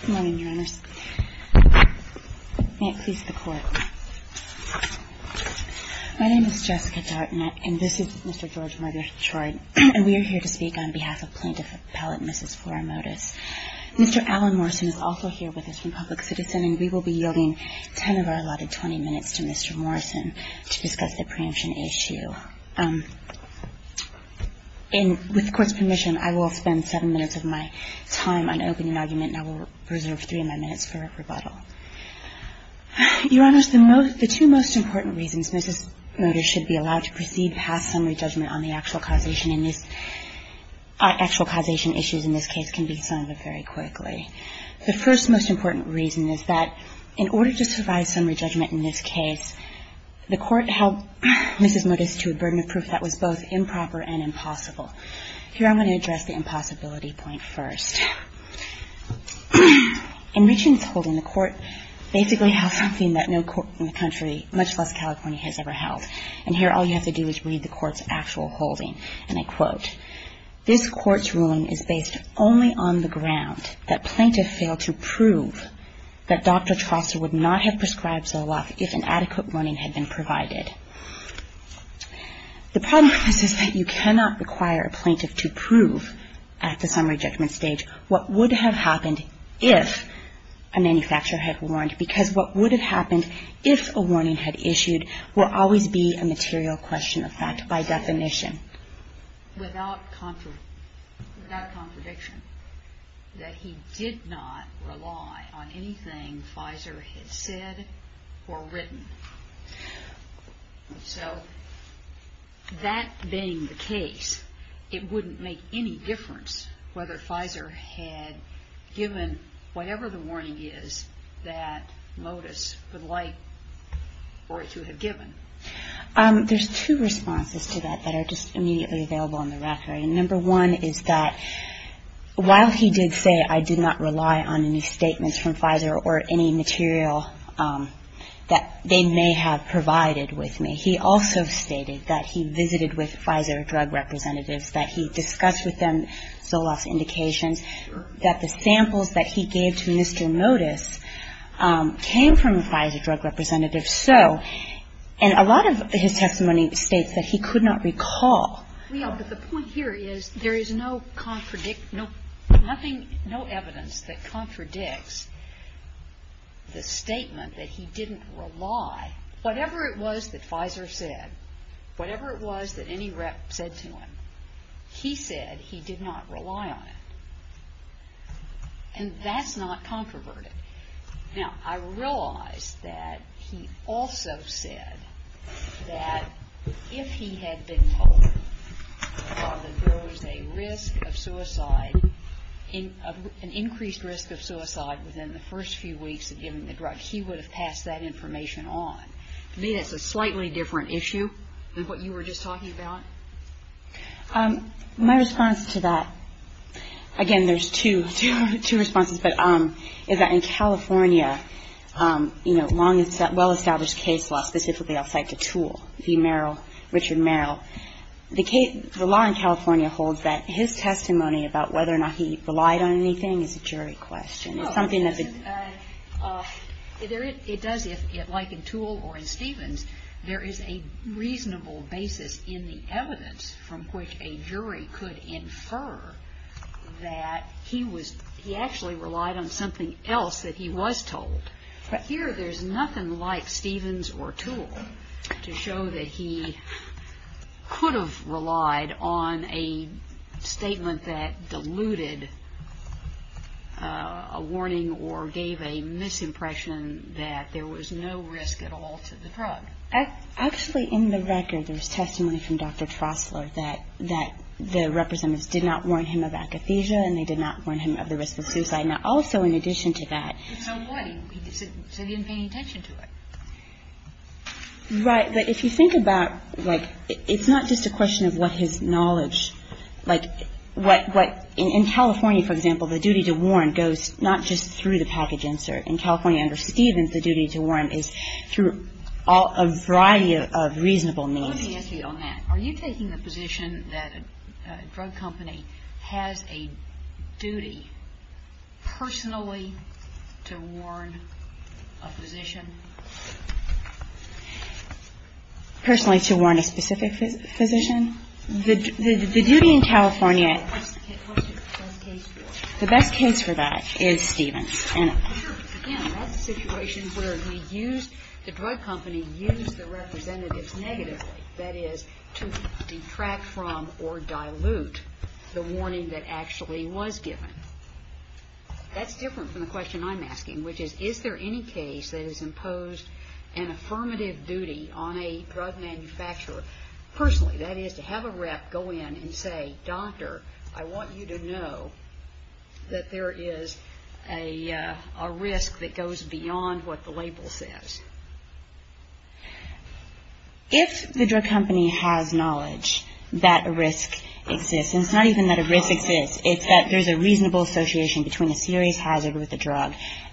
Good morning, Your Honors. May it please the Court. My name is Jessica Dartnett, and this is Mr. George Marder-Troy. And we are here to speak on behalf of Plaintiff Appellate Mrs. Flora Motus. Mr. Alan Morrison is also here with us from Public Citizen, and we will be yielding 10 of our allotted 20 minutes to Mr. Morrison to discuss the preemption issue. With the Court's permission, I will spend 7 minutes of my time on opening argument, and I will reserve 3 of my minutes for rebuttal. Your Honors, the two most important reasons Mrs. Motus should be allowed to proceed past summary judgment on the actual causation issues in this case can be summed up very quickly. The first most important reason is that in order to survive summary judgment in this case, the Court held Mrs. Motus to a burden of proof that was both improper and impossible. Here I'm going to address the impossibility point first. In Richmond's holding, the Court basically held something that no court in the country, much less California, has ever held. And here all you have to do is read the Court's actual holding, and I quote, This Court's ruling is based only on the ground that plaintiff failed to prove that Dr. Troster would not have prescribed Zoloft if an adequate warning had been provided. The problem with this is that you cannot require a plaintiff to prove at the summary judgment stage what would have happened if a manufacturer had warned, because what would have happened if a warning had issued will always be a material question of fact by definition. Without contradiction, that he did not rely on anything Pfizer had said or written. So that being the case, it wouldn't make any difference whether Pfizer had given whatever the warning is that Motus would like for it to have given. There's two responses to that that are just immediately available on the record. Number one is that while he did say I did not rely on any statements from Pfizer or any material that they may have provided with me, he also stated that he visited with Pfizer drug representatives, that he discussed with them Zoloft's indications, that the samples that he gave to Mr. Motus came from a Pfizer drug representative. So, and a lot of his testimony states that he could not recall. But the point here is there is no evidence that contradicts the statement that he didn't rely, whatever it was that Pfizer said, whatever it was that any rep said to him, he said he did not rely on it. And that's not controverted. Now, I realize that he also said that if he had been told that there was a risk of suicide, an increased risk of suicide within the first few weeks of giving the drug, he would have passed that information on. To me, that's a slightly different issue than what you were just talking about. My response to that, again, there's two responses, but is that in California, you know, long and well-established case law, specifically I'll cite the Toole v. Merrill, Richard Merrill. The law in California holds that his testimony about whether or not he relied on anything is a jury question. It's something that the ---- It does, like in Toole or in Stevens, there is a reasonable basis in the evidence from which a jury could infer that he was ---- he actually relied on something else that he was told. But here, there's nothing like Stevens or Toole to show that he could have relied on a statement that diluted a warning or gave a misimpression that there was no risk at all to the drug. Actually, in the record, there was testimony from Dr. Trostler that the representatives did not warn him of akathisia, and they did not warn him of the risk of suicide. Now, also, in addition to that, So what? He said he didn't pay any attention to it. Right. But if you think about, like, it's not just a question of what his knowledge, like what ---- in California, for example, the duty to warn goes not just through the package insert. In California under Stevens, the duty to warn is through a variety of reasonable means. Let me ask you on that. Are you taking the position that a drug company has a duty personally to warn a physician? Personally to warn a specific physician? The duty in California ---- What's the best case for it? The best case for that is Stevens. Sure. Again, that's a situation where the drug company used the representatives negatively, that is, to detract from or dilute the warning that actually was given. That's different from the question I'm asking, which is, is there any case that has imposed an affirmative duty on a drug manufacturer personally, that is, to have a rep go in and say, Doctor, I want you to know that there is a risk that goes beyond what the label says? If the drug company has knowledge that a risk exists, and it's not even that a risk exists, it's that there's a reasonable association between a serious hazard with a drug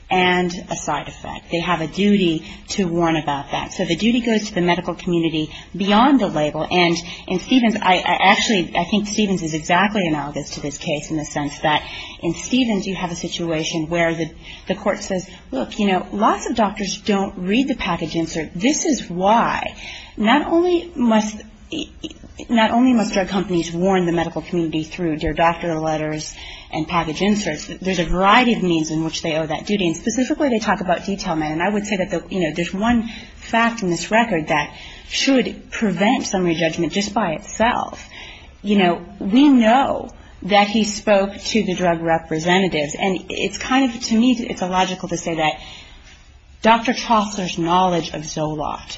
and a side effect. They have a duty to warn about that. So the duty goes to the medical community beyond the label. And in Stevens ---- Actually, I think Stevens is exactly analogous to this case in the sense that in Stevens you have a situation where the court says, look, you know, lots of doctors don't read the package insert. This is why. Not only must drug companies warn the medical community through their doctor letters and package inserts, there's a variety of means in which they owe that duty. And specifically they talk about detail man. I would say that there's one fact in this record that should prevent summary judgment just by itself. You know, we know that he spoke to the drug representatives, and it's kind of to me it's illogical to say that Dr. Trostler's knowledge of Zoloft,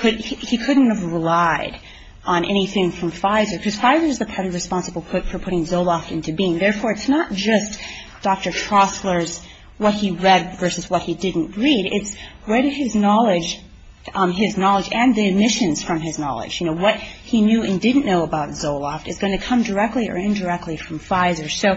he couldn't have relied on anything from Pfizer because Pfizer is the company responsible for putting Zoloft into being. Therefore, it's not just Dr. Trostler's what he read versus what he didn't read. It's what his knowledge and the omissions from his knowledge, you know, what he knew and didn't know about Zoloft is going to come directly or indirectly from Pfizer. So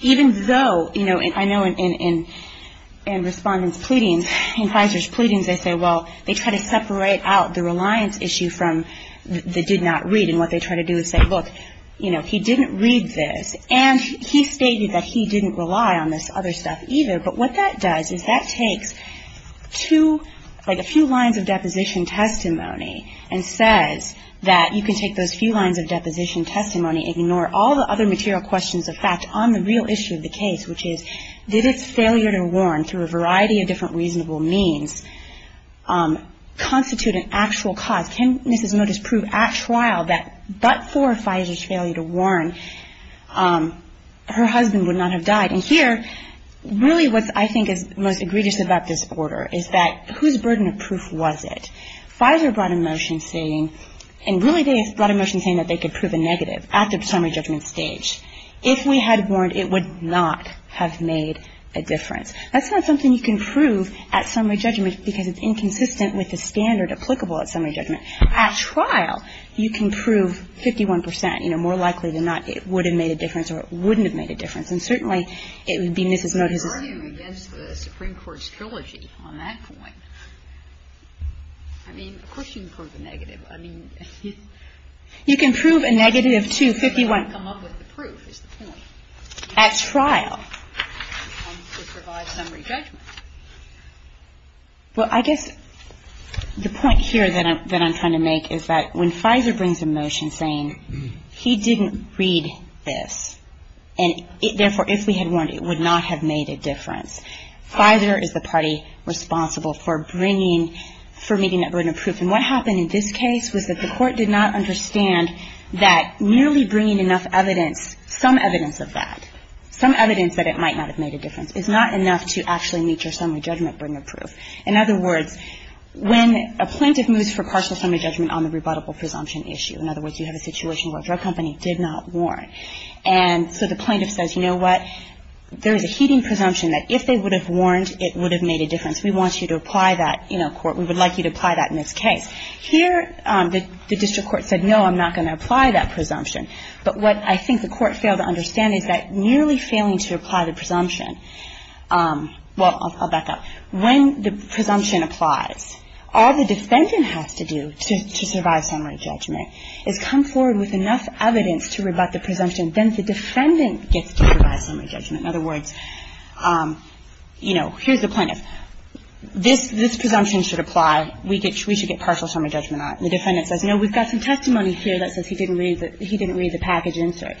even though, you know, I know in respondents' pleadings, in Pfizer's pleadings, they say, well, they try to separate out the reliance issue from the did not read. And what they try to do is say, look, you know, he didn't read this. And he stated that he didn't rely on this other stuff either. But what that does is that takes two, like a few lines of deposition testimony and says that you can take those few lines of deposition testimony, ignore all the other material questions of fact on the real issue of the case, which is did its failure to warn through a variety of different reasonable means constitute an actual cause? Can Mrs. Motis prove at trial that but for Pfizer's failure to warn, her husband would not have died? And here, really what I think is most egregious about this order is that whose burden of proof was it? Pfizer brought a motion saying, and really they brought a motion saying that they could prove a negative at the summary judgment stage. If we had warned, it would not have made a difference. That's not something you can prove at summary judgment because it's inconsistent with the standard applicable at summary judgment. At trial, you can prove 51 percent. You know, more likely than not, it would have made a difference or it wouldn't have made a difference. And certainly, it would be Mrs. Motis's ---- Kagan. You're arguing against the Supreme Court's trilogy on that point. I mean, of course you can prove a negative. I mean, it's ---- Kagan. You can prove a negative to 51 ---- I just don't want to come up with the proof, is the point. Kagan. At trial. To provide summary judgment. Well, I guess the point here that I'm trying to make is that when Pfizer brings a motion saying he didn't read this and therefore, if we had warned, it would not have made a difference, Pfizer is the party responsible for bringing, for meeting that burden of proof. And what happened in this case was that the court did not understand that nearly bringing enough evidence, some evidence of that, some evidence that it might not have made a difference, is not enough to actually meet your summary judgment burden of proof. In other words, when a plaintiff moves for partial summary judgment on the rebuttable presumption issue, in other words, you have a situation where a drug company did not warn. And so the plaintiff says, you know what, there's a heeding presumption that if they would have warned, it would have made a difference. We want you to apply that in our court. We would like you to apply that in this case. Here, the district court said, no, I'm not going to apply that presumption. But what I think the court failed to understand is that nearly failing to apply the presumption – well, I'll back up. When the presumption applies, all the defendant has to do to survive summary judgment is come forward with enough evidence to rebut the presumption. Then the defendant gets to provide summary judgment. In other words, you know, here's the plaintiff. This presumption should apply. We should get partial summary judgment on it. And the defendant says, no, we've got some testimony here that says he didn't read the package insert.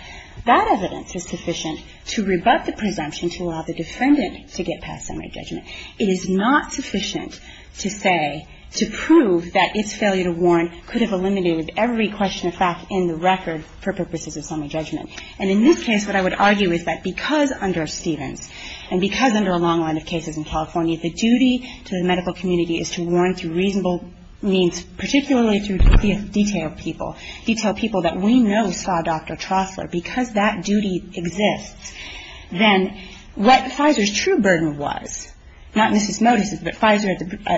That evidence is sufficient to rebut the presumption to allow the defendant to get partial summary judgment. It is not sufficient to say, to prove that its failure to warn could have eliminated every question of fact in the record for purposes of summary judgment. And in this case, what I would argue is that because under Stevens and because under a long line of cases in California, the duty to the medical community is to warn through reasonable means, particularly through detailed people. Detailed people that we know saw Dr. Trostler. Because that duty exists, then what FISER's true burden was, not Mrs. Motis's, but FISER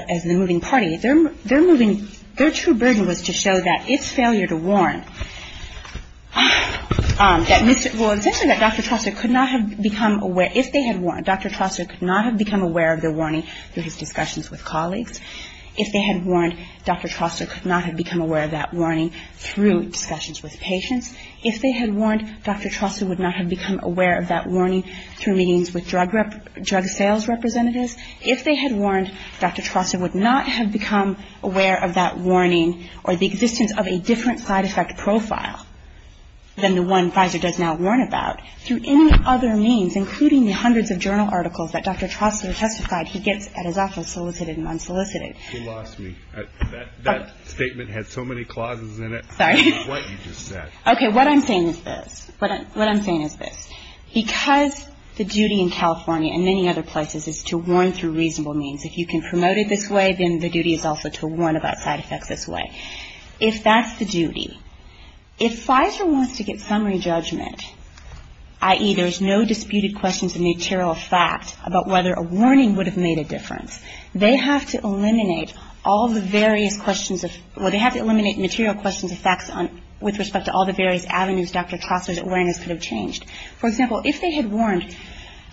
as the moving party, their moving – their true burden was to show that its failure to warn that Mr. – well, essentially that Dr. Trostler could not have become aware – if they had warned, Dr. Trostler could not have become aware of the warning through his discussions with colleagues. If they had warned, Dr. Trostler could not have become aware of that warning through discussions with patients. If they had warned, Dr. Trostler would not have become aware of that warning through meetings with drug sales representatives. If they had warned, Dr. Trostler would not have become aware of that warning or the existence of a different side effect profile than the one FISER does now warn about through any other means, including the hundreds of journal articles that Dr. Trostler testified he gets at his office solicited and unsolicited. You lost me. That statement had so many clauses in it. Sorry. What you just said. Okay, what I'm saying is this. What I'm saying is this. Because the duty in California and many other places is to warn through reasonable means, if you can promote it this way, then the duty is also to warn about side effects this way. If that's the duty, if FISER wants to get summary judgment, i.e., there's no disputed questions of material fact about whether a warning would have made a difference, they have to eliminate all the various questions of – well, they have to eliminate material questions of facts with respect to all the various avenues Dr. Trostler's awareness could have changed. For example, if they had warned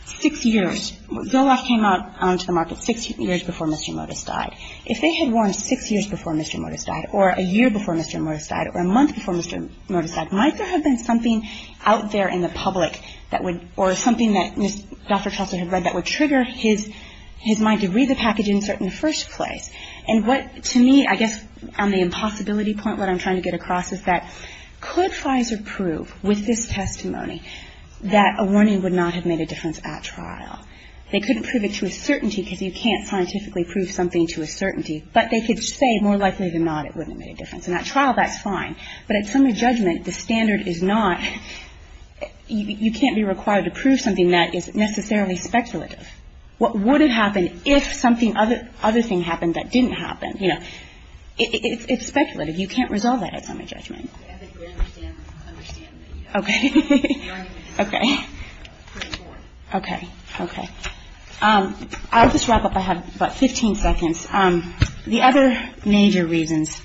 six years – Zoloft came onto the market six years before Mr. Motis died. If they had warned six years before Mr. Motis died or a year before Mr. Motis died or a month before Mr. Motis died, might there have been something out there in the public that would – or something that Dr. Trostler had read that would trigger his mind to read the package insert in the first place? And what, to me, I guess on the impossibility point what I'm trying to get across is that could FISER prove with this testimony that a warning would not have made a difference at trial? They couldn't prove it to a certainty because you can't scientifically prove something to a certainty, but they could say more likely than not it wouldn't have made a difference. And at trial, that's fine. But at summary judgment, the standard is not – you can't be required to prove something that is necessarily speculative. What would have happened if something – other thing happened that didn't happen? You know, it's speculative. You can't resolve that at summary judgment. I think we understand that. Okay. Okay. Okay. Okay. Okay. I'll just wrap up. I have about 15 seconds. The other major reasons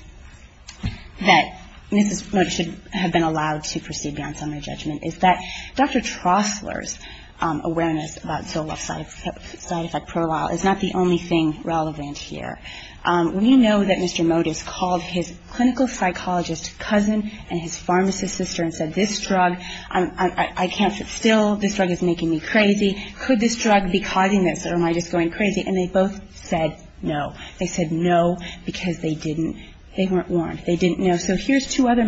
that Mrs. Motis should have been allowed to proceed beyond summary judgment is that Dr. Trostler's awareness about Zoloft's side effect profile is not the only thing relevant here. We know that Mr. Motis called his clinical psychologist cousin and his pharmacist sister and said, this drug, I can't sit still, this drug is making me crazy, could this drug be causing this or am I just going crazy? And they both said no. They said no because they didn't – they weren't warned. They didn't know. So here's two other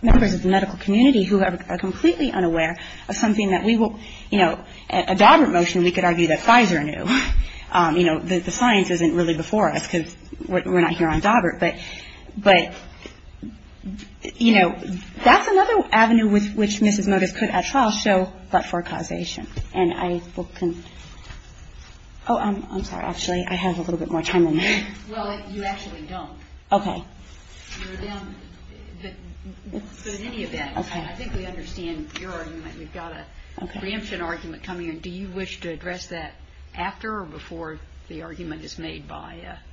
members of the medical community who are completely unaware of something that we will – you know, a Daubert motion, we could argue that Pfizer knew. You know, the science isn't really before us because we're not here on Daubert. But, you know, that's another avenue with which Mrs. Motis could at trial show blood flow causation. And I will – oh, I'm sorry. Actually, I have a little bit more time than that. Well, you actually don't. Okay. You're down – but in any event, I think we understand your argument. We've got a preemption argument coming in. Do you wish to address that after or before the argument is made by a –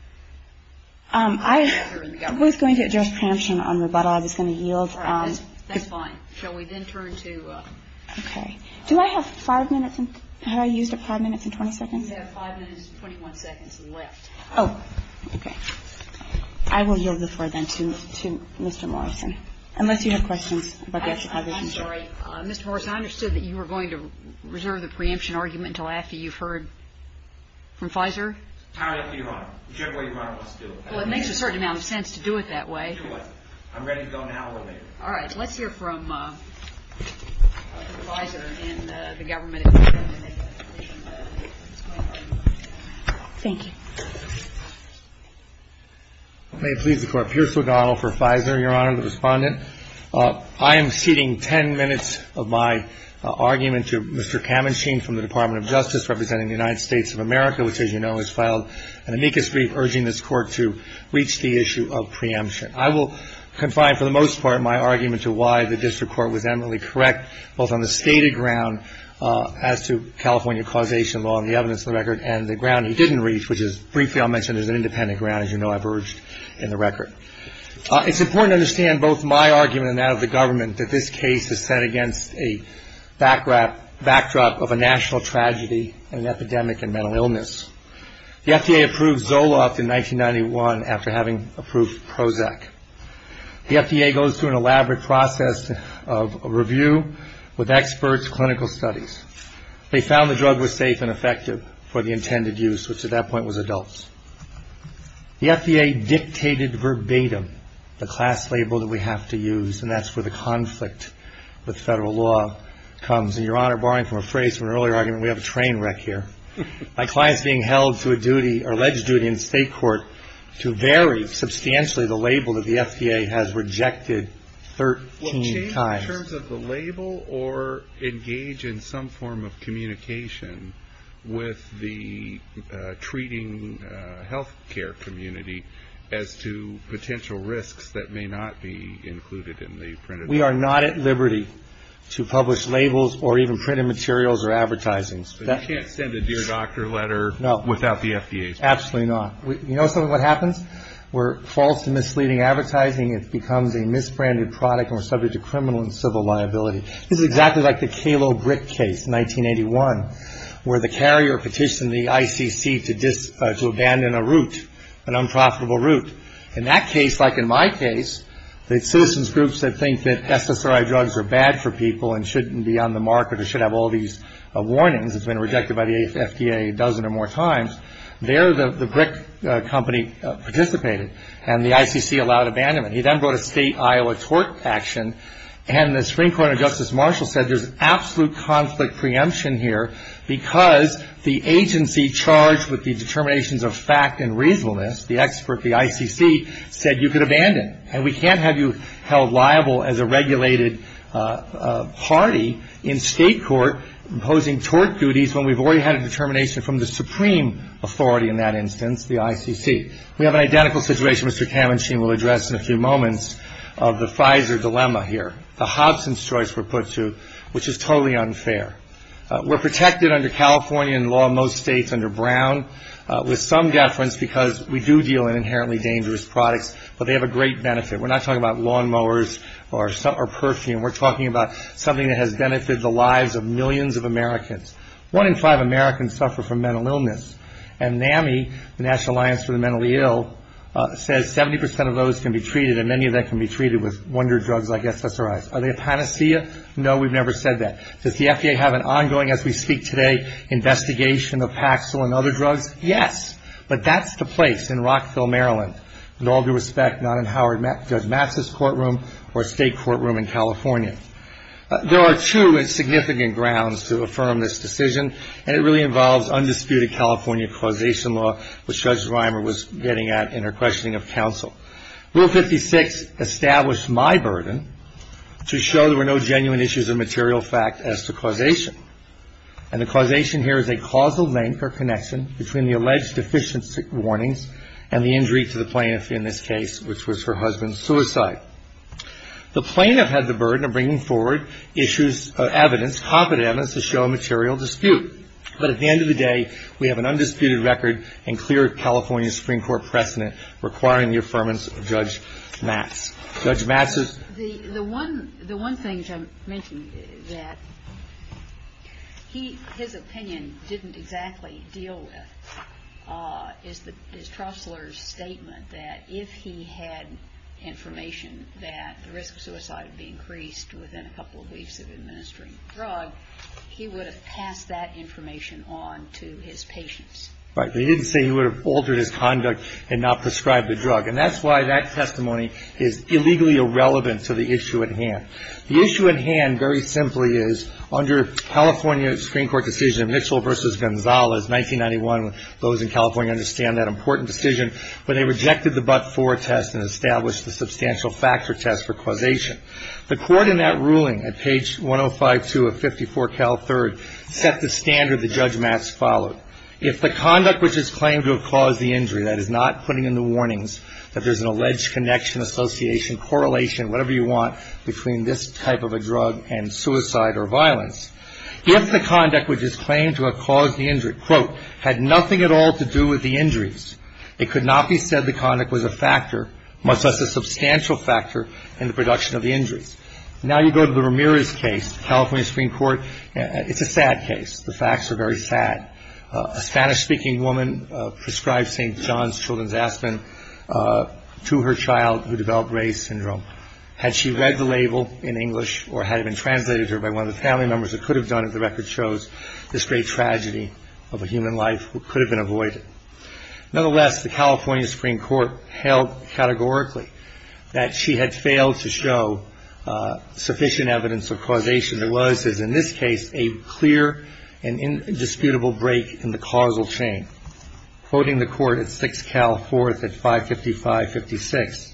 I was going to address preemption on rebuttal. I was going to yield. All right. That's fine. Shall we then turn to – Okay. Do I have five minutes? Have I used a five minutes and 20 seconds? You have five minutes and 21 seconds left. Oh. Okay. I will yield before then to Mr. Morrison, unless you have questions about the executive position. I'm sorry. Mr. Morrison, I understood that you were going to reserve the preemption argument until after you've heard from Pfizer. It's entirely up to Your Honor. Whichever way Your Honor wants to do it. Well, it makes a certain amount of sense to do it that way. Do it. I'm ready to go now or later. All right. Let's hear from Pfizer and the government. Thank you. May it please the Court. Pierce O'Donnell for Pfizer, Your Honor, the Respondent. I am ceding 10 minutes of my argument to Mr. Kamenschein from the Department of Justice representing the United States of America, which, as you know, has filed an amicus brief urging this Court to reach the issue of preemption. I will confine for the most part my argument to why the district court was eminently correct, both on the stated ground as to California causation law and the evidence of the record and the ground he didn't reach, which is briefly I'll mention is an independent ground, as you know I've urged in the record. It's important to understand both my argument and that of the government that this case is set against a backdrop of a national tragedy and epidemic and mental illness. The FDA approved Zoloft in 1991 after having approved Prozac. The FDA goes through an elaborate process of review with experts, clinical studies. They found the drug was safe and effective for the intended use, which at that point was adults. The FDA dictated verbatim the class label that we have to use, and that's where the conflict with federal law comes. And, Your Honor, borrowing from a phrase from an earlier argument, we have a train wreck here. My client is being held to alleged duty in state court to vary substantially the label that the FDA has rejected 13 times. Well, change in terms of the label or engage in some form of communication with the treating health care community as to potential risks that may not be included in the printed label. We are not at liberty to publish labels or even printed materials or advertising. But you can't send a dear doctor letter without the FDA's permission. Absolutely not. You know something that happens? We're false and misleading advertising. It becomes a misbranded product, and we're subject to criminal and civil liability. This is exactly like the Calo Britt case in 1981 where the carrier petitioned the ICC to abandon a route, an unprofitable route. In that case, like in my case, the citizens groups that think that SSRI drugs are bad for people and shouldn't be on the market or should have all these warnings. It's been rejected by the FDA a dozen or more times. There, the brick company participated, and the ICC allowed abandonment. He then brought a state Iowa tort action, and the Supreme Court and Justice Marshall said there's absolute conflict preemption here because the agency charged with the determinations of fact and reasonableness, the expert, the ICC, said you could abandon. And we can't have you held liable as a regulated party in state court imposing tort duties when we've already had a determination from the supreme authority in that instance, the ICC. We have an identical situation Mr. Kamenschein will address in a few moments of the Pfizer dilemma here, the Hobson's choice we're put to, which is totally unfair. We're protected under California law in most states under Brown with some deference because we do deal in inherently dangerous products, but they have a great benefit. We're not talking about lawn mowers or perfume. We're talking about something that has benefited the lives of millions of Americans. One in five Americans suffer from mental illness, and NAMI, the National Alliance for the Mentally Ill, says 70% of those can be treated and many of them can be treated with wonder drugs like SSRIs. Are they a panacea? No, we've never said that. Does the FDA have an ongoing, as we speak today, investigation of Paxil and other drugs? Yes, but that's the place in Rockville, Maryland. With all due respect, not in Howard Judge Matz's courtroom or a state courtroom in California. There are two significant grounds to affirm this decision, and it really involves undisputed California causation law, which Judge Reimer was getting at in her questioning of counsel. Rule 56 established my burden to show there were no genuine issues of material fact as to causation, and the causation here is a causal link or connection between the alleged deficiency warnings and the injury to the plaintiff in this case, which was her husband's suicide. The plaintiff had the burden of bringing forward issues of evidence, competent evidence to show a material dispute, but at the end of the day, we have an undisputed record and clear California Supreme Court precedent requiring the affirmance of Judge Matz. Judge Matz's? The one thing I'm making is that his opinion didn't exactly deal with is Trostler's statement that if he had information that the risk of suicide would be increased within a couple of weeks of administering the drug, he would have passed that information on to his patients. Right, but he didn't say he would have altered his conduct and not prescribed the drug, and that's why that testimony is illegally irrelevant to the issue at hand. The issue at hand, very simply, is under California Supreme Court decision Mitchell v. Gonzalez, 1991, those in California understand that important decision, but they rejected the but-for test and established the substantial factor test for causation. The court in that ruling at page 1052 of 54 Cal 3rd set the standard that Judge Matz followed. If the conduct which is claimed to have caused the injury, that is not putting in the warnings that there's an alleged connection, association, correlation, whatever you want between this type of a drug and suicide or violence, if the conduct which is claimed to have caused the injury, quote, had nothing at all to do with the injuries, it could not be said the conduct was a factor, much less a substantial factor in the production of the injuries. Now you go to the Ramirez case, California Supreme Court, it's a sad case. The facts are very sad. A Spanish-speaking woman prescribed St. John's Children's Aspirin to her child who developed Reye's Syndrome. Had she read the label in English or had it been translated to her by one of the family members, it could have done it. The record shows this great tragedy of a human life could have been avoided. Nonetheless, the California Supreme Court held categorically that she had failed to show sufficient evidence of causation. There was, as in this case, a clear and indisputable break in the causal chain. Quoting the court at 6 Cal 4th at 555-56,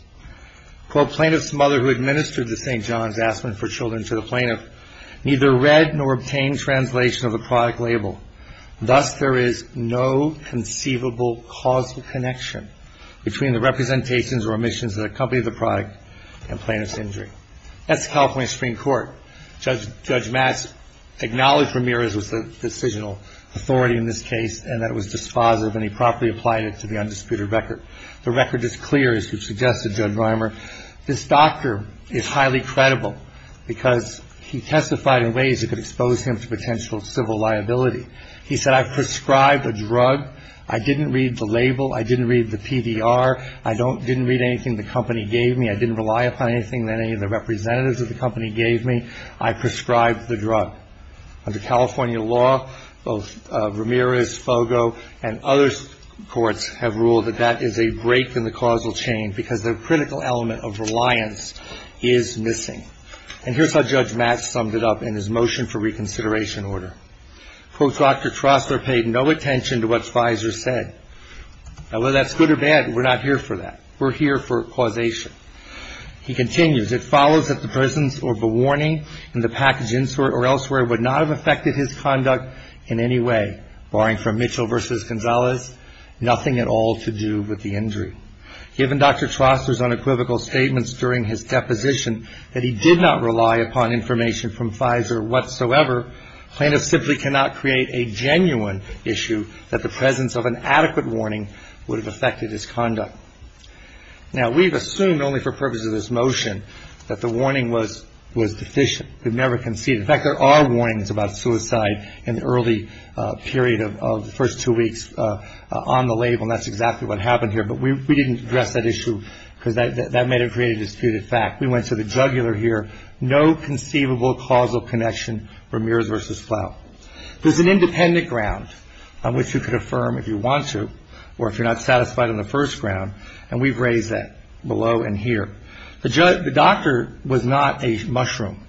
quote, Plaintiff's mother who administered the St. John's Aspirin for children to the plaintiff neither read nor obtained translation of the product label. Thus, there is no conceivable causal connection between the representations or omissions that accompany the product and plaintiff's injury. That's the California Supreme Court. Judge Mass acknowledged Ramirez was the decisional authority in this case and that it was dispositive and he properly applied it to the undisputed record. The record is clear, as you suggested, Judge Reimer. This doctor is highly credible because he testified in ways that could expose him to potential civil liability. He said, I've prescribed a drug. I didn't read the label. I didn't read the PDR. I didn't read anything the company gave me. I didn't rely upon anything that any of the representatives of the company gave me. I prescribed the drug. Under California law, both Ramirez, Fogo, and other courts have ruled that that is a break in the causal chain because the critical element of reliance is missing. And here's how Judge Mass summed it up in his motion for reconsideration order. Quote, Dr. Trostler paid no attention to what Spicer said. Now, whether that's good or bad, we're not here for that. We're here for causation. He continues, it follows that the presence of a warning in the package insert or elsewhere would not have affected his conduct in any way, barring from Mitchell v. Gonzalez, nothing at all to do with the injury. Given Dr. Trostler's unequivocal statements during his deposition that he did not rely upon information from Spicer whatsoever, plaintiffs simply cannot create a genuine issue that the presence of an adequate warning would have affected his conduct. Now, we've assumed only for purposes of this motion that the warning was deficient. We've never conceded. In fact, there are warnings about suicide in the early period of the first two weeks on the label, and that's exactly what happened here. But we didn't address that issue because that may have created a disputed fact. We went to the jugular here. No conceivable causal connection for Ramirez v. Plow. There's an independent ground on which you could affirm if you want to or if you're not satisfied on the first ground, and we've raised that below and here. The doctor was not a mushroom.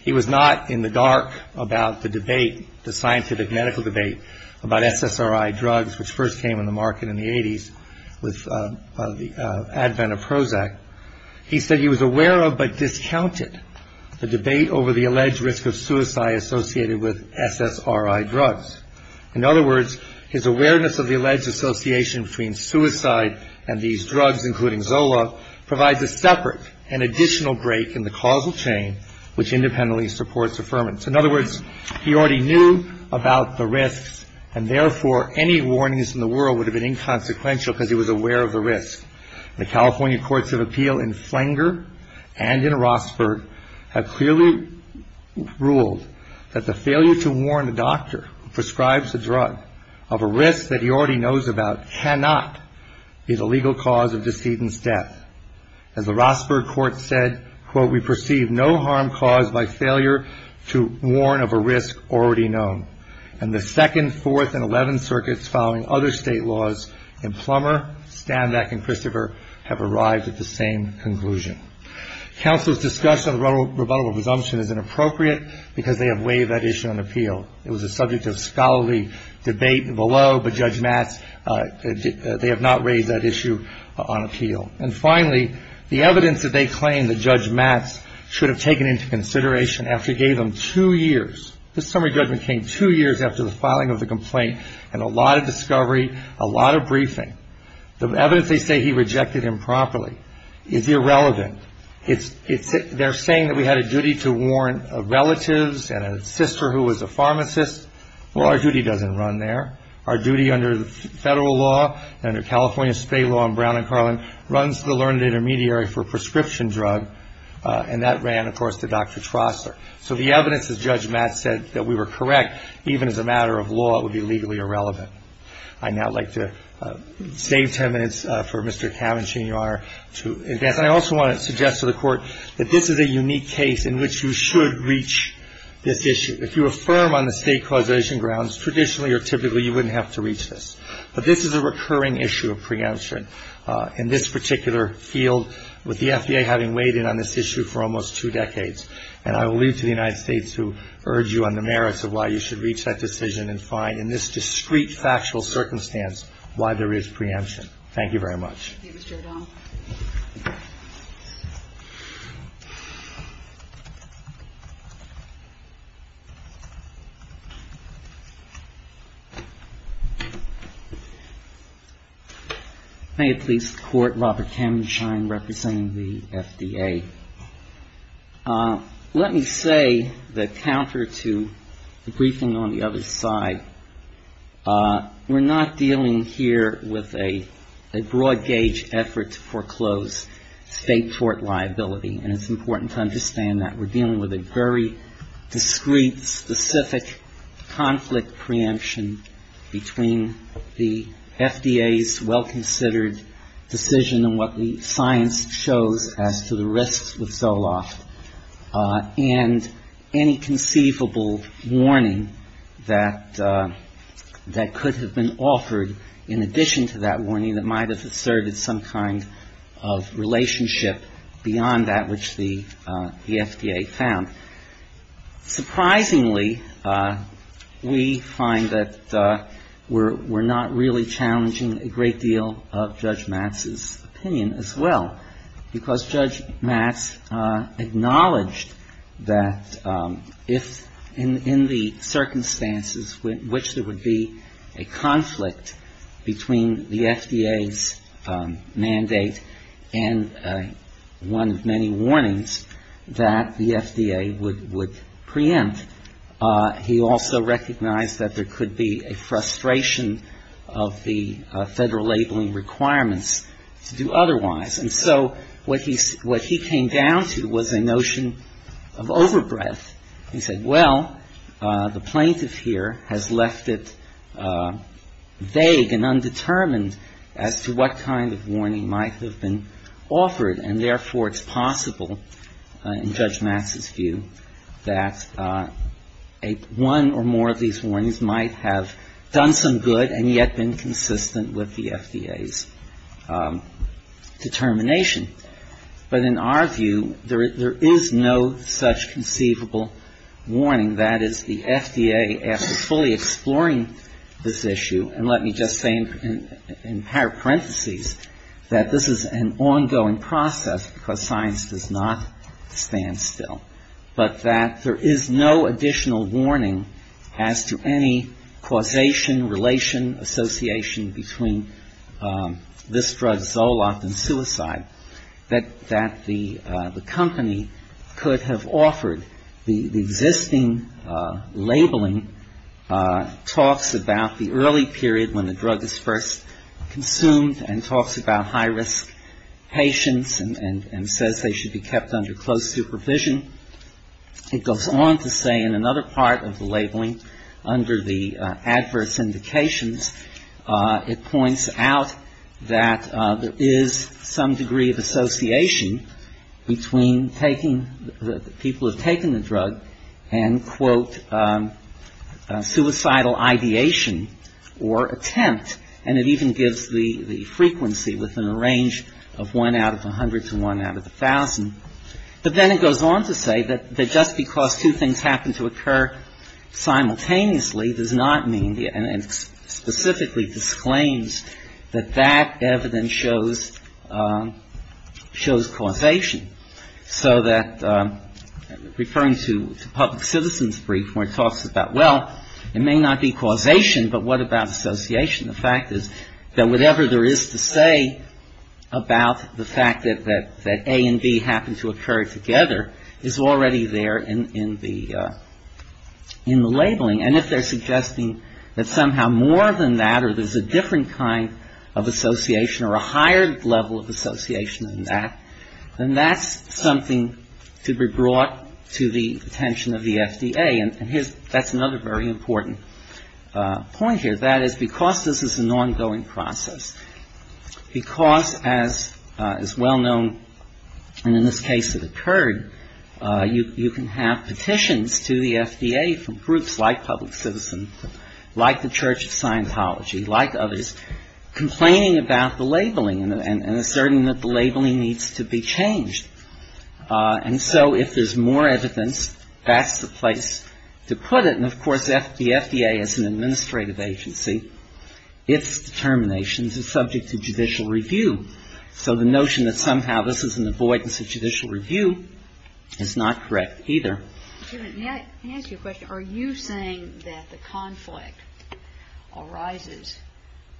He was not in the dark about the debate, the scientific medical debate about SSRI drugs, which first came on the market in the 80s with the advent of Prozac. He said he was aware of but discounted the debate over the alleged risk of suicide associated with SSRI drugs. In other words, his awareness of the alleged association between suicide and these drugs, including Zoloft, provides a separate and additional break in the causal chain which independently supports affirmance. In other words, he already knew about the risks, and therefore any warnings in the world would have been inconsequential because he was aware of the risk. The California Courts of Appeal in Flanger and in Rossburg have clearly ruled that the failure to warn a doctor who prescribes a drug of a risk that he already knows about cannot be the legal cause of decedent's death. As the Rossburg court said, quote, we perceive no harm caused by failure to warn of a risk already known. And the second, fourth, and eleventh circuits following other state laws in Plummer, Stanback, and Christopher have arrived at the same conclusion. Counsel's discussion of the rebuttal presumption is inappropriate because they have waived that issue on appeal. It was a subject of scholarly debate below, but Judge Matz, they have not raised that issue on appeal. And finally, the evidence that they claim that Judge Matz should have taken into consideration after he gave them two years. This summary judgment came two years after the filing of the complaint and a lot of discovery, a lot of briefing. The evidence they say he rejected improperly is irrelevant. They're saying that we had a duty to warn relatives and a sister who was a pharmacist. Well, our duty doesn't run there. Our duty under the federal law, under California state law and Brown and Carlin, runs the learned intermediary for prescription drug, and that ran, of course, to Dr. Trostler. So the evidence that Judge Matz said that we were correct, even as a matter of law, would be legally irrelevant. I'd now like to save ten minutes for Mr. Kavinsky, Your Honor, to advance. And I also want to suggest to the Court that this is a unique case in which you should reach this issue. If you affirm on the state causation grounds, traditionally or typically, you wouldn't have to reach this. But this is a recurring issue of preemption in this particular field, with the FDA having weighed in on this issue for almost two decades. And I will leave to the United States to urge you on the merits of why you should reach that decision and find in this discrete factual circumstance why there is preemption. Thank you very much. Thank you, Mr. O'Donnell. May it please the Court, Robert Kamenschein representing the FDA. Let me say that counter to the briefing on the other side, we're not dealing here with a broad-gauge effort to foreclose state tort liability, and it's important to understand that. We're dealing with a very discrete, specific conflict preemption between the FDA's well-considered decision and what the science shows as to the risks with Zoloft, and any conceivable warning that could have been offered in addition to that warning that might have asserted some kind of relationship beyond that which the FDA found. Surprisingly, we find that we're not really challenging a great deal of Judge Matz's opinion. Because Judge Matz acknowledged that if in the circumstances in which there would be a conflict between the FDA's mandate and one of many warnings that the FDA would preempt, he also recognized that there could be a frustration of the Federal labeling requirements to do otherwise. And so what he came down to was a notion of overbreadth. He said, well, the plaintiff here has left it vague and undetermined as to what kind of warning might have been offered, and therefore it's possible in Judge Matz's view that one or more of these warnings might have done some good and yet been inconsistent with the FDA's determination. But in our view, there is no such conceivable warning that is the FDA, after fully exploring this issue, and let me just say in parentheses that this is an ongoing process, because science does not stand still, but that there is no additional warning as to any causation, relation, association between this drug, Zoloft, and suicide that the company could have offered. The existing labeling talks about the early period when the drug is first consumed and talks about high-risk patients and says they should be kept under close supervision. It points out that there is some degree of association between people who have taken the drug and, quote, suicidal ideation or attempt, and it even gives the frequency within a range of 1 out of 100 to 1 out of 1,000. But then it goes on to say that just because two things happen to occur simultaneously does not mean, and specifically disclaims, that that evidence shows causation. So that referring to public citizens' brief where it talks about, well, it may not be causation, but what about association? The fact is that whatever there is to say about the fact that A and B happen to occur together is already there in the label. And if they're suggesting that somehow more than that or there's a different kind of association or a higher level of association than that, then that's something to be brought to the attention of the FDA. And that's another very important point here, that is because this is an ongoing process, because, as is well known, and in this case it occurred, you can have petitions to the FDA from groups like the U.S. Congress, like Public Citizen, like the Church of Scientology, like others, complaining about the labeling and asserting that the labeling needs to be changed. And so if there's more evidence, that's the place to put it. And, of course, the FDA as an administrative agency, its determinations are subject to judicial review. So the notion that somehow this is an avoidance of judicial review is not correct either. Can I ask you a question? Are you saying that the conflict arises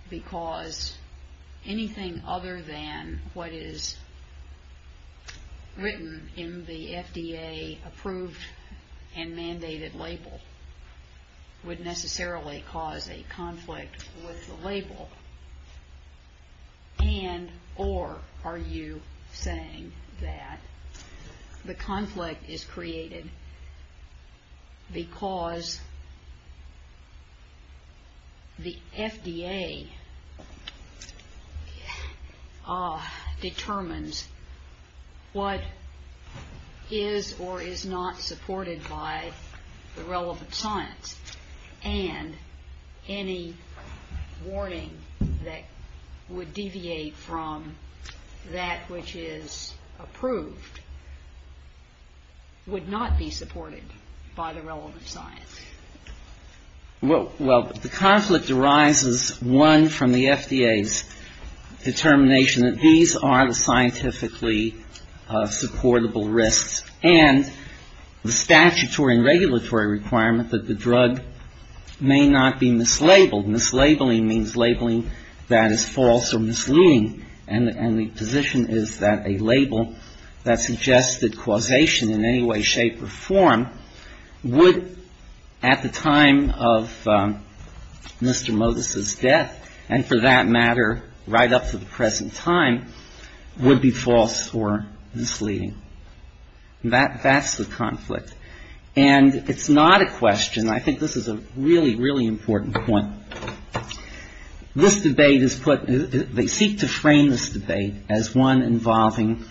because anything other than what is written in the FDA-approved and mandated label would necessarily cause a conflict with the label? And, or, are you saying that the conflict is created because the FDA determines what is or is not supported by the relevant science and any warning to the FDA? That would deviate from that which is approved would not be supported by the relevant science? Well, the conflict arises, one, from the FDA's determination that these are the scientifically supportable risks and the statutory and regulatory requirement that the drug may not be mislabeled. Mislabeling means labeling that is false or misleading. And the position is that a label that suggested causation in any way, shape, or form would, at the time of Mr. Motis's death, and for that matter, right up to the present time, would be false or misleading. That's the conflict. And it's not a question. I think this is a really, really important point. This debate is put, they seek to frame this debate as one involving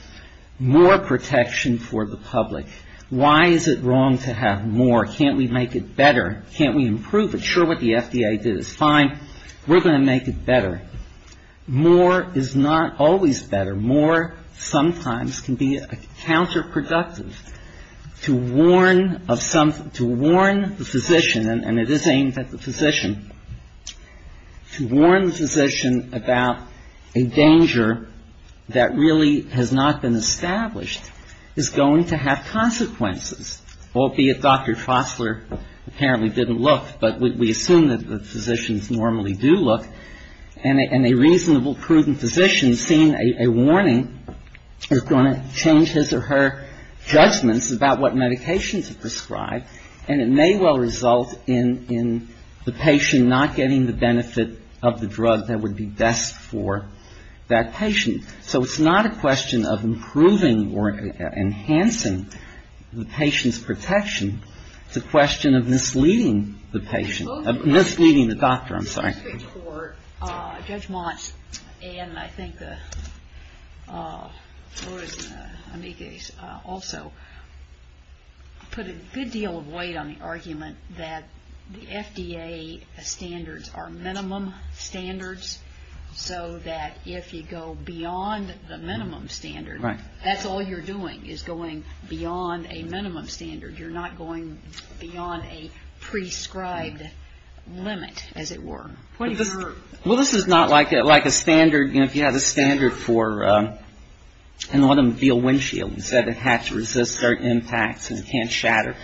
more protection for the public. Why is it wrong to have more? Can't we make it better? Can't we improve it? Sure, what the FDA did is fine. We're going to make it better. More is not always better. More sometimes can be counterproductive. To warn of something, to warn the physician, and it is aimed at the physician. To warn the physician about a danger that really has not been established is going to have consequences, albeit Dr. Fosler apparently didn't look, but we assume that the physicians normally do look. And a reasonable, prudent physician seeing a warning is going to change his or her judgments about what medication to prescribe, and it may well result in the patient not getting the benefit of the warning. And it may well result in the patient not getting the benefit of the drug that would be best for that patient. So it's not a question of improving or enhancing the patient's protection. It's a question of misleading the patient, misleading the doctor, I'm sorry. Judge Montz and I think the Lourdes and the Amigues also put a good deal of weight on the argument that the FDA standards are misleading. They're misleading because they're not going beyond the minimum standards so that if you go beyond the minimum standard, that's all you're doing is going beyond a minimum standard. You're not going beyond a prescribed limit, as it were. Well, this is not like a standard, you know, if you have a standard for an automobile windshield and said it had to resist dirt impacts and can't shatter,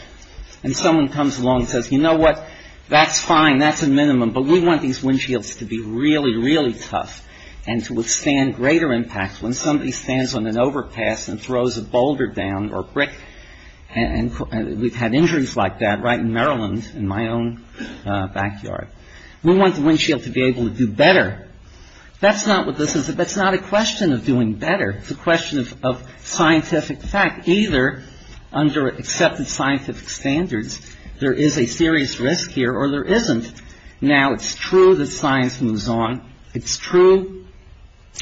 and someone comes along and says, you know what, that's fine, that's a minimum, but we want the exact same thing. We want these windshields to be really, really tough and to withstand greater impact when somebody stands on an overpass and throws a boulder down or brick. And we've had injuries like that right in Maryland in my own backyard. We want the windshield to be able to do better. That's not what this is. That's not a question of doing better. It's a question of scientific fact. Either under accepted scientific standards, there is a serious risk here or there isn't. Now, it's true that science moves on. It's true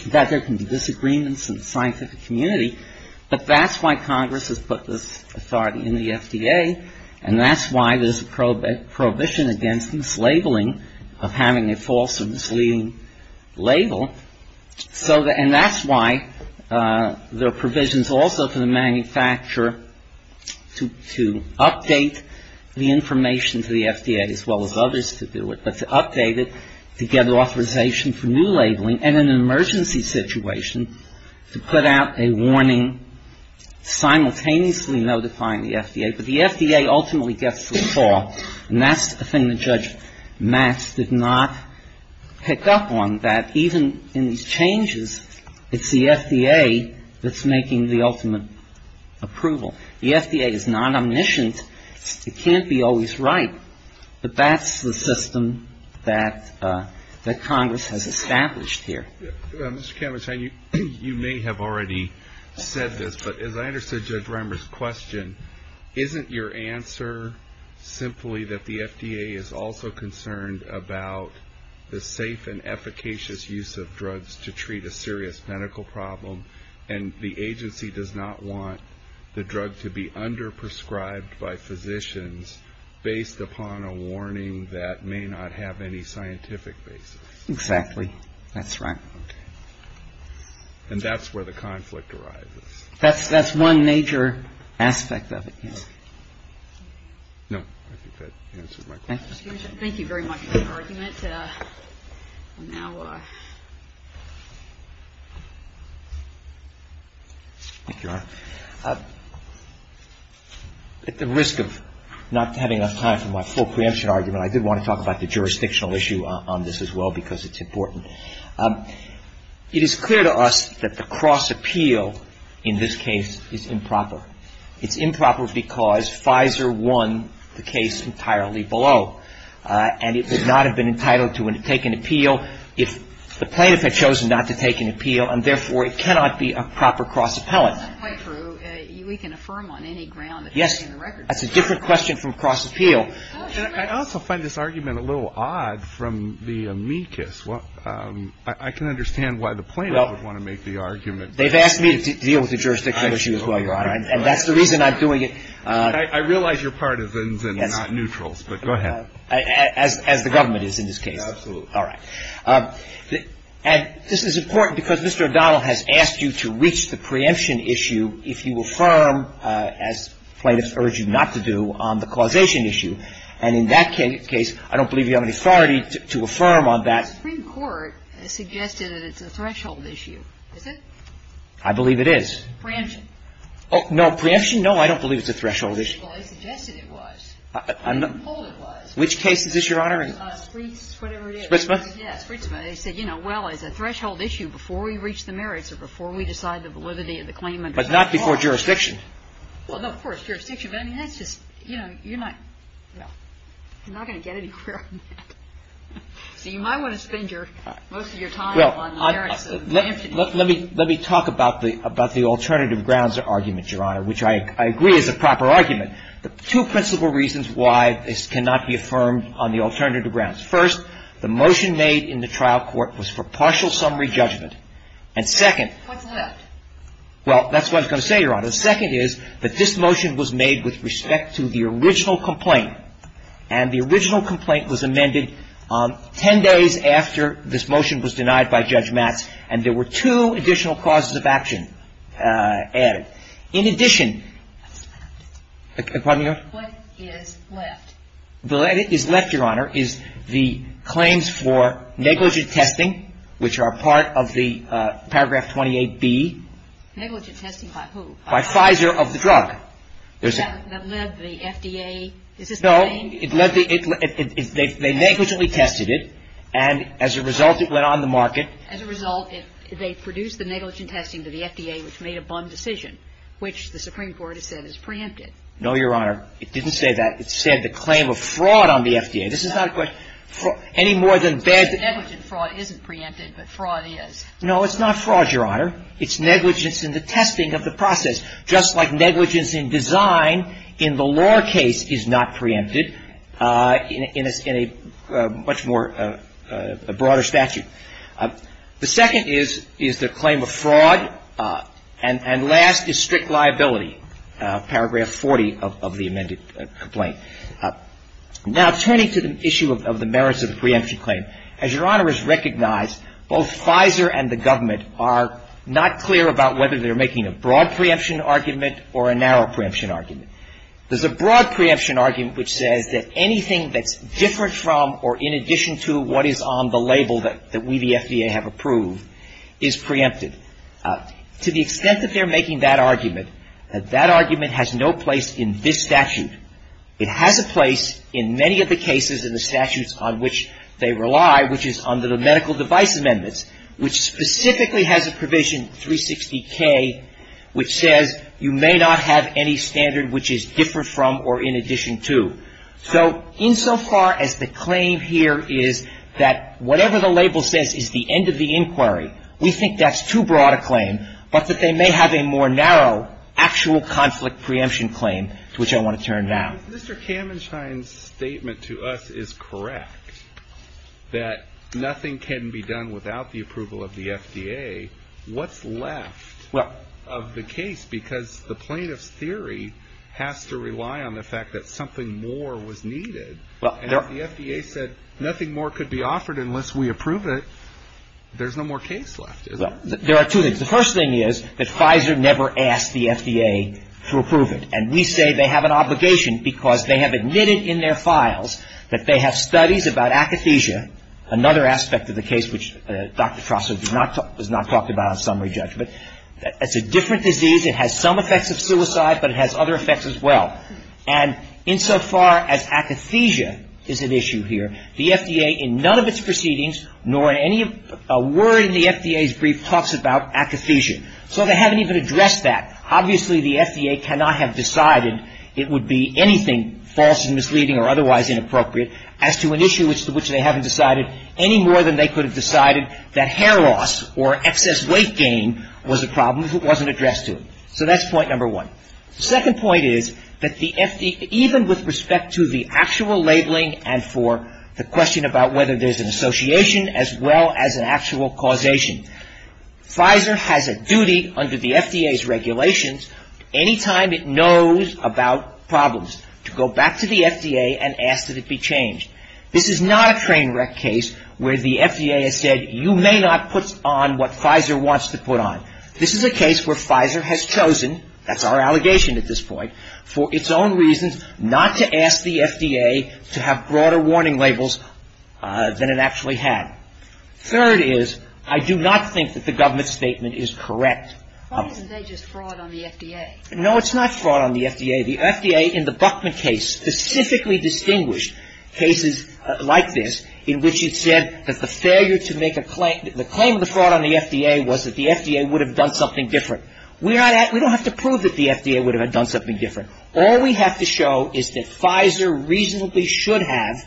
that there can be disagreements in the scientific community, but that's why Congress has put this authority in the FDA, and that's why there's a prohibition against mislabeling of having a false or misleading label. And that's why there are provisions also for the manufacturer to update the information to the FDA, as well as others to do it, but to update it, to get authorization for new labeling, and in an emergency situation, to put out a warning simultaneously notifying the FDA. But the FDA ultimately gets the saw, and that's the thing that Judge Reimers is concerned about. It's the FDA that's making the ultimate approval. The FDA is non-omniscient. It can't be always right. But that's the system that Congress has established here. Mr. Kamenstein, you may have already said this, but as I understood Judge Reimers' question, isn't your answer simply that the FDA is also concerned about the safe and efficacious use of drugs to treat a serious medical problem, and the agency does not want the drug to be under-prescribed by physicians based upon a warning that may not have any scientific basis? Exactly. That's right. And that's where the conflict arises. That's one major aspect of it, yes. No, I think that answers my question. Thank you very much for your argument. At the risk of not having enough time for my full preemption argument, I did want to talk about the jurisdictional issue on this as well, because it's important. It is clear to us that the cross-appeal in this case is improper. It's improper because Pfizer won the case entirely below. And it would not have been entitled to take an appeal if the plaintiff had chosen not to take an appeal, and therefore it cannot be a proper cross-appellant. That's not quite true. We can affirm on any ground that everything in the record is true. Yes. That's a different question from cross-appeal. I also find this argument a little odd from the amicus. I can understand why the plaintiff would want to make the argument. They've asked me to deal with the jurisdictional issue as well, Your Honor, and that's the reason I'm doing it. I realize you're partisans and not neutrals, but go ahead. As the government is in this case. Absolutely. All right. And this is important because Mr. O'Donnell has asked you to reach the preemption issue if you affirm, as plaintiffs urge you not to do, on the causation issue. And in that case, I don't believe you have any authority to affirm on that. The Supreme Court has suggested that it's a threshold issue. Is it? I believe it is. Preemption? No. Preemption? No, I don't believe it's a threshold issue. Well, they suggested it was. I'm not going to hold it was. Which case is this, Your Honor? Spreets, whatever it is. Spreetsman? Yes, Spreetsman. They said, you know, well, it's a threshold issue before we reach the merits or before we decide the validity of the claim. But not before jurisdiction. Well, no, of course, jurisdiction. But, I mean, that's just, you know, you're not going to get anywhere on that. So you might want to spend most of your time on the merits of the preemption. Let me talk about the alternative grounds argument, Your Honor, which I agree is a proper argument. The two principal reasons why this cannot be affirmed on the alternative grounds. First, the motion made in the trial court was for partial summary judgment. And second — What's left? Well, that's what I was going to say, Your Honor. The second is that this motion was made with respect to the original complaint. And the original complaint was amended 10 days after this motion was denied by Judge Matz, and there were two additional causes of action added. In addition — What's left? Pardon me, Your Honor? What is left? What is left, Your Honor, is the claims for negligent testing, which are part of the paragraph 28B. Negligent testing by who? By Pfizer of the drug. That led the FDA? Is this the same? No. It led the — they negligently tested it, and as a result, it went on the market. As a result, they produced the negligent testing to the FDA, which made a bum decision, which the Supreme Court has said is preempted. No, Your Honor. It didn't say that. It said the claim of fraud on the FDA. This is not a question — any more than bad — Negligent fraud isn't preempted, but fraud is. No, it's not fraud, Your Honor. It's negligence in the testing of the process, just like negligence in design in the law case is not preempted in a much more — a broader statute. The second is the claim of fraud. And last is strict liability, paragraph 40 of the amended complaint. Now, turning to the issue of the merits of the preemption claim, as Your Honor has recognized, both Pfizer and the government are not clear about whether they're making a broad preemption argument or a narrow preemption argument. There's a broad preemption argument which says that anything that's different from or in addition to what is on the label that we, the FDA, have approved is preempted. To the extent that they're making that argument, that that argument has no place in this statute. It has a place in many of the cases and the statutes on which they rely, which is under the medical device amendments, which specifically has a provision, 360K, which says you may not have any standard which is different from or in addition to. So insofar as the claim here is that whatever the label says is the end of the inquiry, we think that's too broad a claim, but that they may have a more narrow actual conflict preemption claim to which I want to turn now. Mr. Kamenschein's statement to us is correct, that nothing can be done without the approval of the FDA. What's left of the case? Because the plaintiff's theory has to rely on the fact that something more was needed. And if the FDA said nothing more could be offered unless we approve it, there's no more case left, isn't there? There are two things. The first thing is that Pfizer never asked the FDA to approve it. And we say they have an obligation because they have admitted in their files that they have studies about akathisia, another aspect of the case which Dr. Trostler has not talked about on summary judgment. It's a different disease. It has some effects of suicide, but it has other effects as well. And insofar as akathisia is at issue here, the FDA in none of its proceedings nor in any word in the FDA's brief talks about akathisia. So they haven't even addressed that. Obviously, the FDA cannot have decided it would be anything false and misleading or otherwise inappropriate as to an issue which they haven't decided any more than they was a problem if it wasn't addressed to them. So that's point number one. The second point is that even with respect to the actual labeling and for the question about whether there's an association as well as an actual causation, Pfizer has a duty under the FDA's regulations any time it knows about problems to go back to the FDA and ask that it be changed. This is not a train wreck case where the FDA has said you may not put on what you're supposed to put on. This is a case where Pfizer has chosen, that's our allegation at this point, for its own reasons not to ask the FDA to have broader warning labels than it actually had. Third is I do not think that the government's statement is correct. Why isn't it just fraud on the FDA? No, it's not fraud on the FDA. The FDA in the Buckman case specifically distinguished cases like this in which it said that the failure to make a claim, the claim of the fraud on the FDA was that the FDA would have done something different. We don't have to prove that the FDA would have done something different. All we have to show is that Pfizer reasonably should have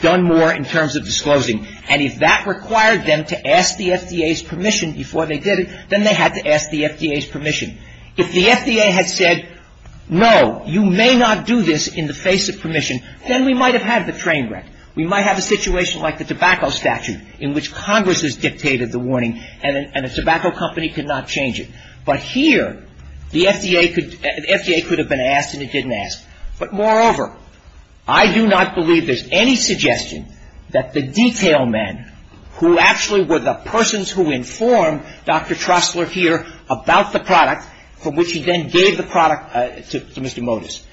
done more in terms of disclosing. And if that required them to ask the FDA's permission before they did it, then they had to ask the FDA's permission. If the FDA had said, no, you may not do this in the face of permission, then we might have had the train wreck. We might have a situation like the tobacco statute in which Congress has dictated the warning and a tobacco company could not change it. But here, the FDA could have been asked and it didn't ask. But moreover, I do not believe there's any suggestion that the detail men who actually were the persons who informed Dr. Trostler here about the product, for which he then gave the product to Mr. Modis,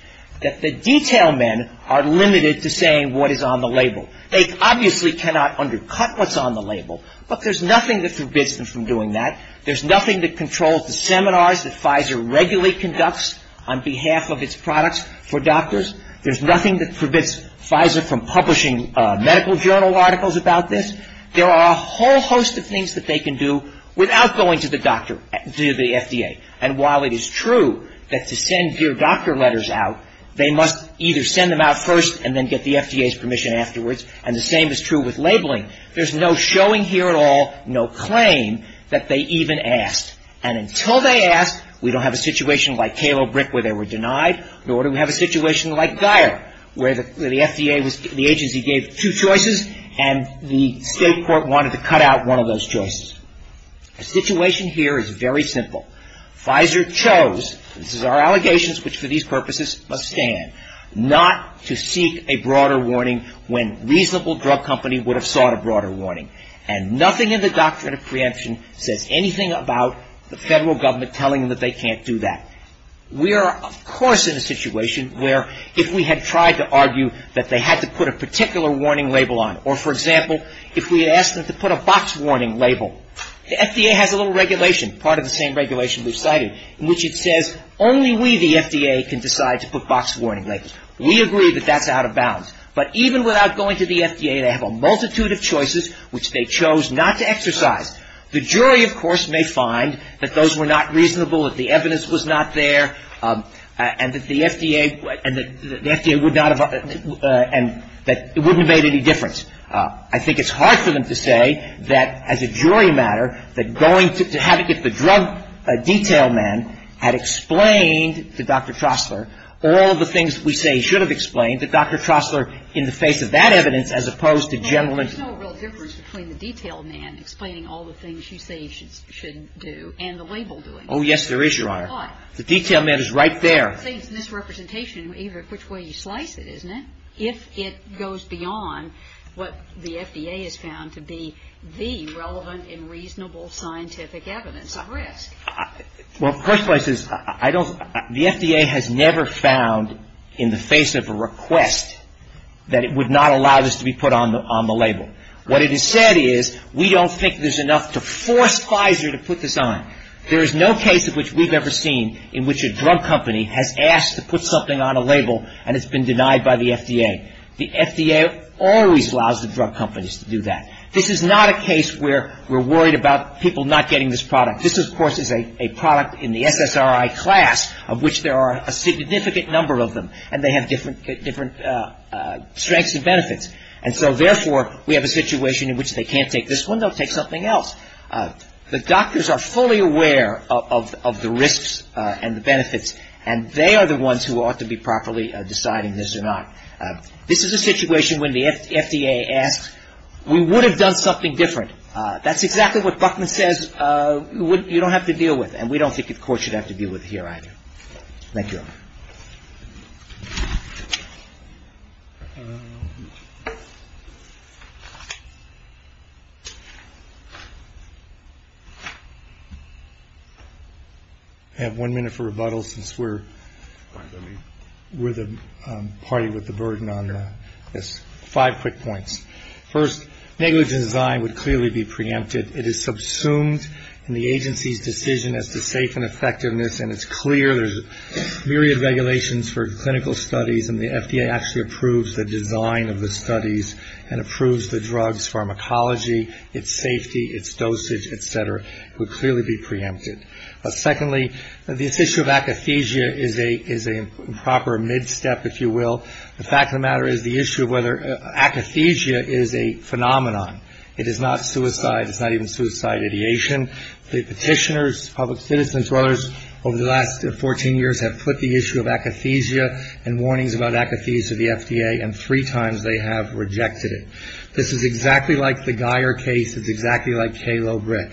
that the detail men are limited to saying what is on the label. They obviously cannot undercut what's on the label, but there's nothing that forbids them from doing that. There's nothing that controls the seminars that Pfizer regularly conducts on behalf of its products for doctors. There's nothing that forbids Pfizer from publishing medical journal articles about this. There are a whole host of things that they can do without going to the doctor, to the FDA. And while it is true that to send your doctor letters out, they must either send them out first and then get the FDA's permission afterwards, and the same is true with labeling, there's no showing here at all, no claim that they even asked. And until they asked, we don't have a situation like Kalo Brick where they were denied, nor do we have a situation like Geier where the FDA was the agency gave two choices and the State Court wanted to cut out one of those choices. The situation here is very simple. Pfizer chose, this is our allegations, which for these purposes must stand, not to seek a broader warning when reasonable drug company would have sought a broader warning. And nothing in the Doctrine of Preemption says anything about the Federal Government telling them that they can't do that. We are, of course, in a situation where if we had tried to argue that they had to put a particular warning label on, or, for example, if we asked them to put a box warning label, the FDA has a little regulation, part of the same regulation we've cited, in which it says only we, the FDA, can decide to put box warning labels. We agree that that's out of bounds. But even without going to the FDA, they have a multitude of choices which they chose not to exercise. The jury, of course, may find that those were not reasonable, that the evidence was not there, and that the FDA would not have, and that it wouldn't have made any difference. I think it's hard for them to say that as a jury matter, that going to have it get the drug detail man had explained to Dr. Trostler all of the things we say he should have explained, that Dr. Trostler, in the face of that evidence, as opposed to gentleman ---- Well, there's no real difference between the detail man explaining all the things you say he should do and the label doing. Oh, yes, there is, Your Honor. Why? The detail man is right there. It's a misrepresentation of either which way you slice it, isn't it? If it goes beyond what the FDA has found to be the relevant and reasonable scientific evidence of risk. Well, the first place is I don't ---- The FDA has never found in the face of a request that it would not allow this to be put on the label. What it has said is we don't think there's enough to force Pfizer to put this on. There is no case of which we've ever seen in which a drug company has asked to put something on a label and it's been denied by the FDA. The FDA always allows the drug companies to do that. This is not a case where we're worried about people not getting this product. This, of course, is a product in the SSRI class of which there are a significant number of them, and they have different strengths and benefits. And so, therefore, we have a situation in which they can't take this one. They'll take something else. The doctors are fully aware of the risks and the benefits, and they are the ones who ought to be properly deciding this or not. This is a situation when the FDA asks, we would have done something different. That's exactly what Buckman says you don't have to deal with, and we don't think the court should have to deal with here either. Thank you. I have one minute for rebuttal since we're the party with the burden on this. Five quick points. First, negligence design would clearly be preempted. It is subsumed in the agency's decision as to safe and effectiveness, and it's clear there's myriad regulations for clinical studies, and the FDA actually approves the design of the studies and approves the drug's pharmacology, its safety, its dosage, et cetera. It would clearly be preempted. Secondly, this issue of akathisia is a proper mid-step, if you will. The fact of the matter is the issue of whether akathisia is a phenomenon. It is not suicide. It's not even suicide ideation. The petitioners, public citizens, brothers, over the last 14 years have put the issue of akathisia and warnings about akathisia to the FDA, and three times they have rejected it. This is exactly like the Geyer case. It's exactly like K-Low brick.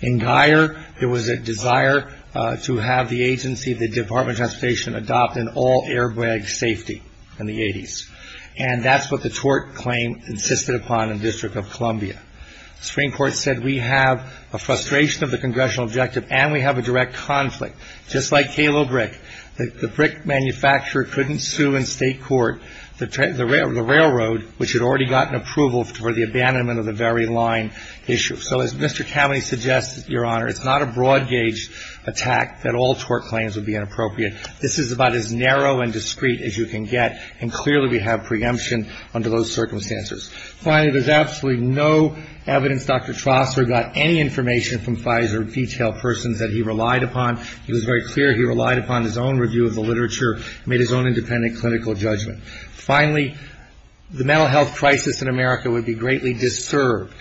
In Geyer, there was a desire to have the agency, the Department of Transportation, adopt an all-airbag safety in the 80s, and that's what the tort claim insisted upon in the District of Columbia. The Supreme Court said we have a frustration of the congressional objective and we have a direct conflict. Just like K-Low brick, the brick manufacturer couldn't sue in state court the railroad, which had already gotten approval for the abandonment of the very line issue. So as Mr. Cavaney suggested, Your Honor, it's not a broad-gauge attack that all tort claims would be inappropriate. This is about as narrow and discreet as you can get, and clearly we have preemption under those circumstances. Finally, there's absolutely no evidence Dr. Trostler got any information from Pfizer or detailed persons that he relied upon. It was very clear he relied upon his own review of the literature and made his own independent clinical judgment. Finally, the mental health crisis in America would be greatly disturbed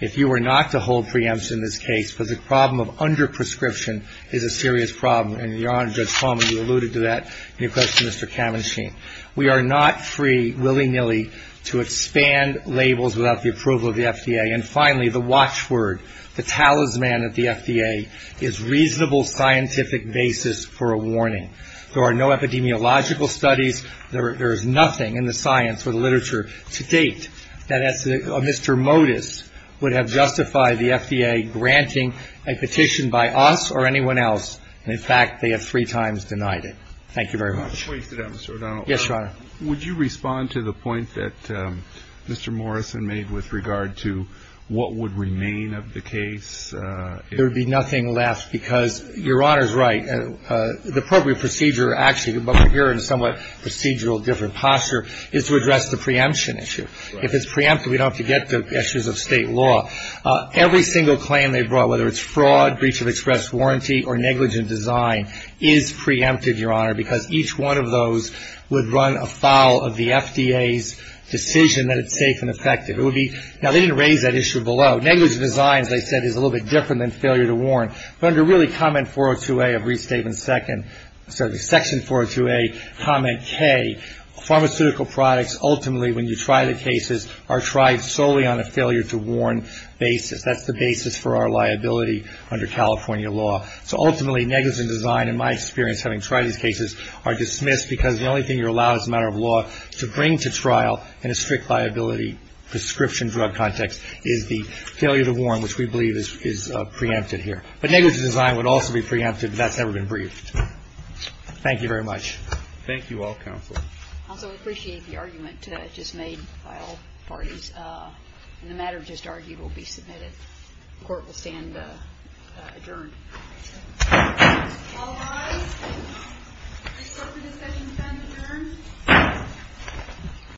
if you were not to hold preemption in this case, because the problem of under-prescription is a serious problem, and Your Honor, Judge Palmer, you alluded to that in your question to Mr. Kavanshian. We are not free willy-nilly to expand labels without the approval of the FDA. And finally, the watchword, the talisman at the FDA, is reasonable scientific basis for a warning. There are no epidemiological studies. There is nothing in the science or the literature to date that Mr. Modis would have justified the FDA granting a petition by us or anyone else. In fact, they have three times denied it. Thank you very much. Two points to that, Mr. O'Donnell. Yes, Your Honor. Would you respond to the point that Mr. Morrison made with regard to what would remain of the case? There would be nothing left, because Your Honor is right. The appropriate procedure actually, but we're here in a somewhat procedural different posture, is to address the preemption issue. If it's preempted, we don't have to get to issues of state law. Every single claim they brought, whether it's fraud, breach of express warranty, or negligent design, is preempted, Your Honor, because each one of those would run afoul of the FDA's decision that it's safe and effective. Now, they didn't raise that issue below. Negligent design, as I said, is a little bit different than failure to warn. But under really section 402A, comment K, pharmaceutical products ultimately, when you try the cases, are tried solely on a failure to warn basis. That's the basis for our liability under California law. So ultimately, negligent design, in my experience, having tried these cases, are dismissed, because the only thing you're allowed as a matter of law to bring to trial in a strict liability prescription drug context is the failure to warn, which we believe is preempted here. But negligent design would also be preempted if that's ever been briefed. Thank you very much. Roberts. Thank you all, counsel. Also, we appreciate the argument just made by all parties. And the matter just argued will be submitted. The court will stand adjourned. All rise. This court for discussion stands adjourned.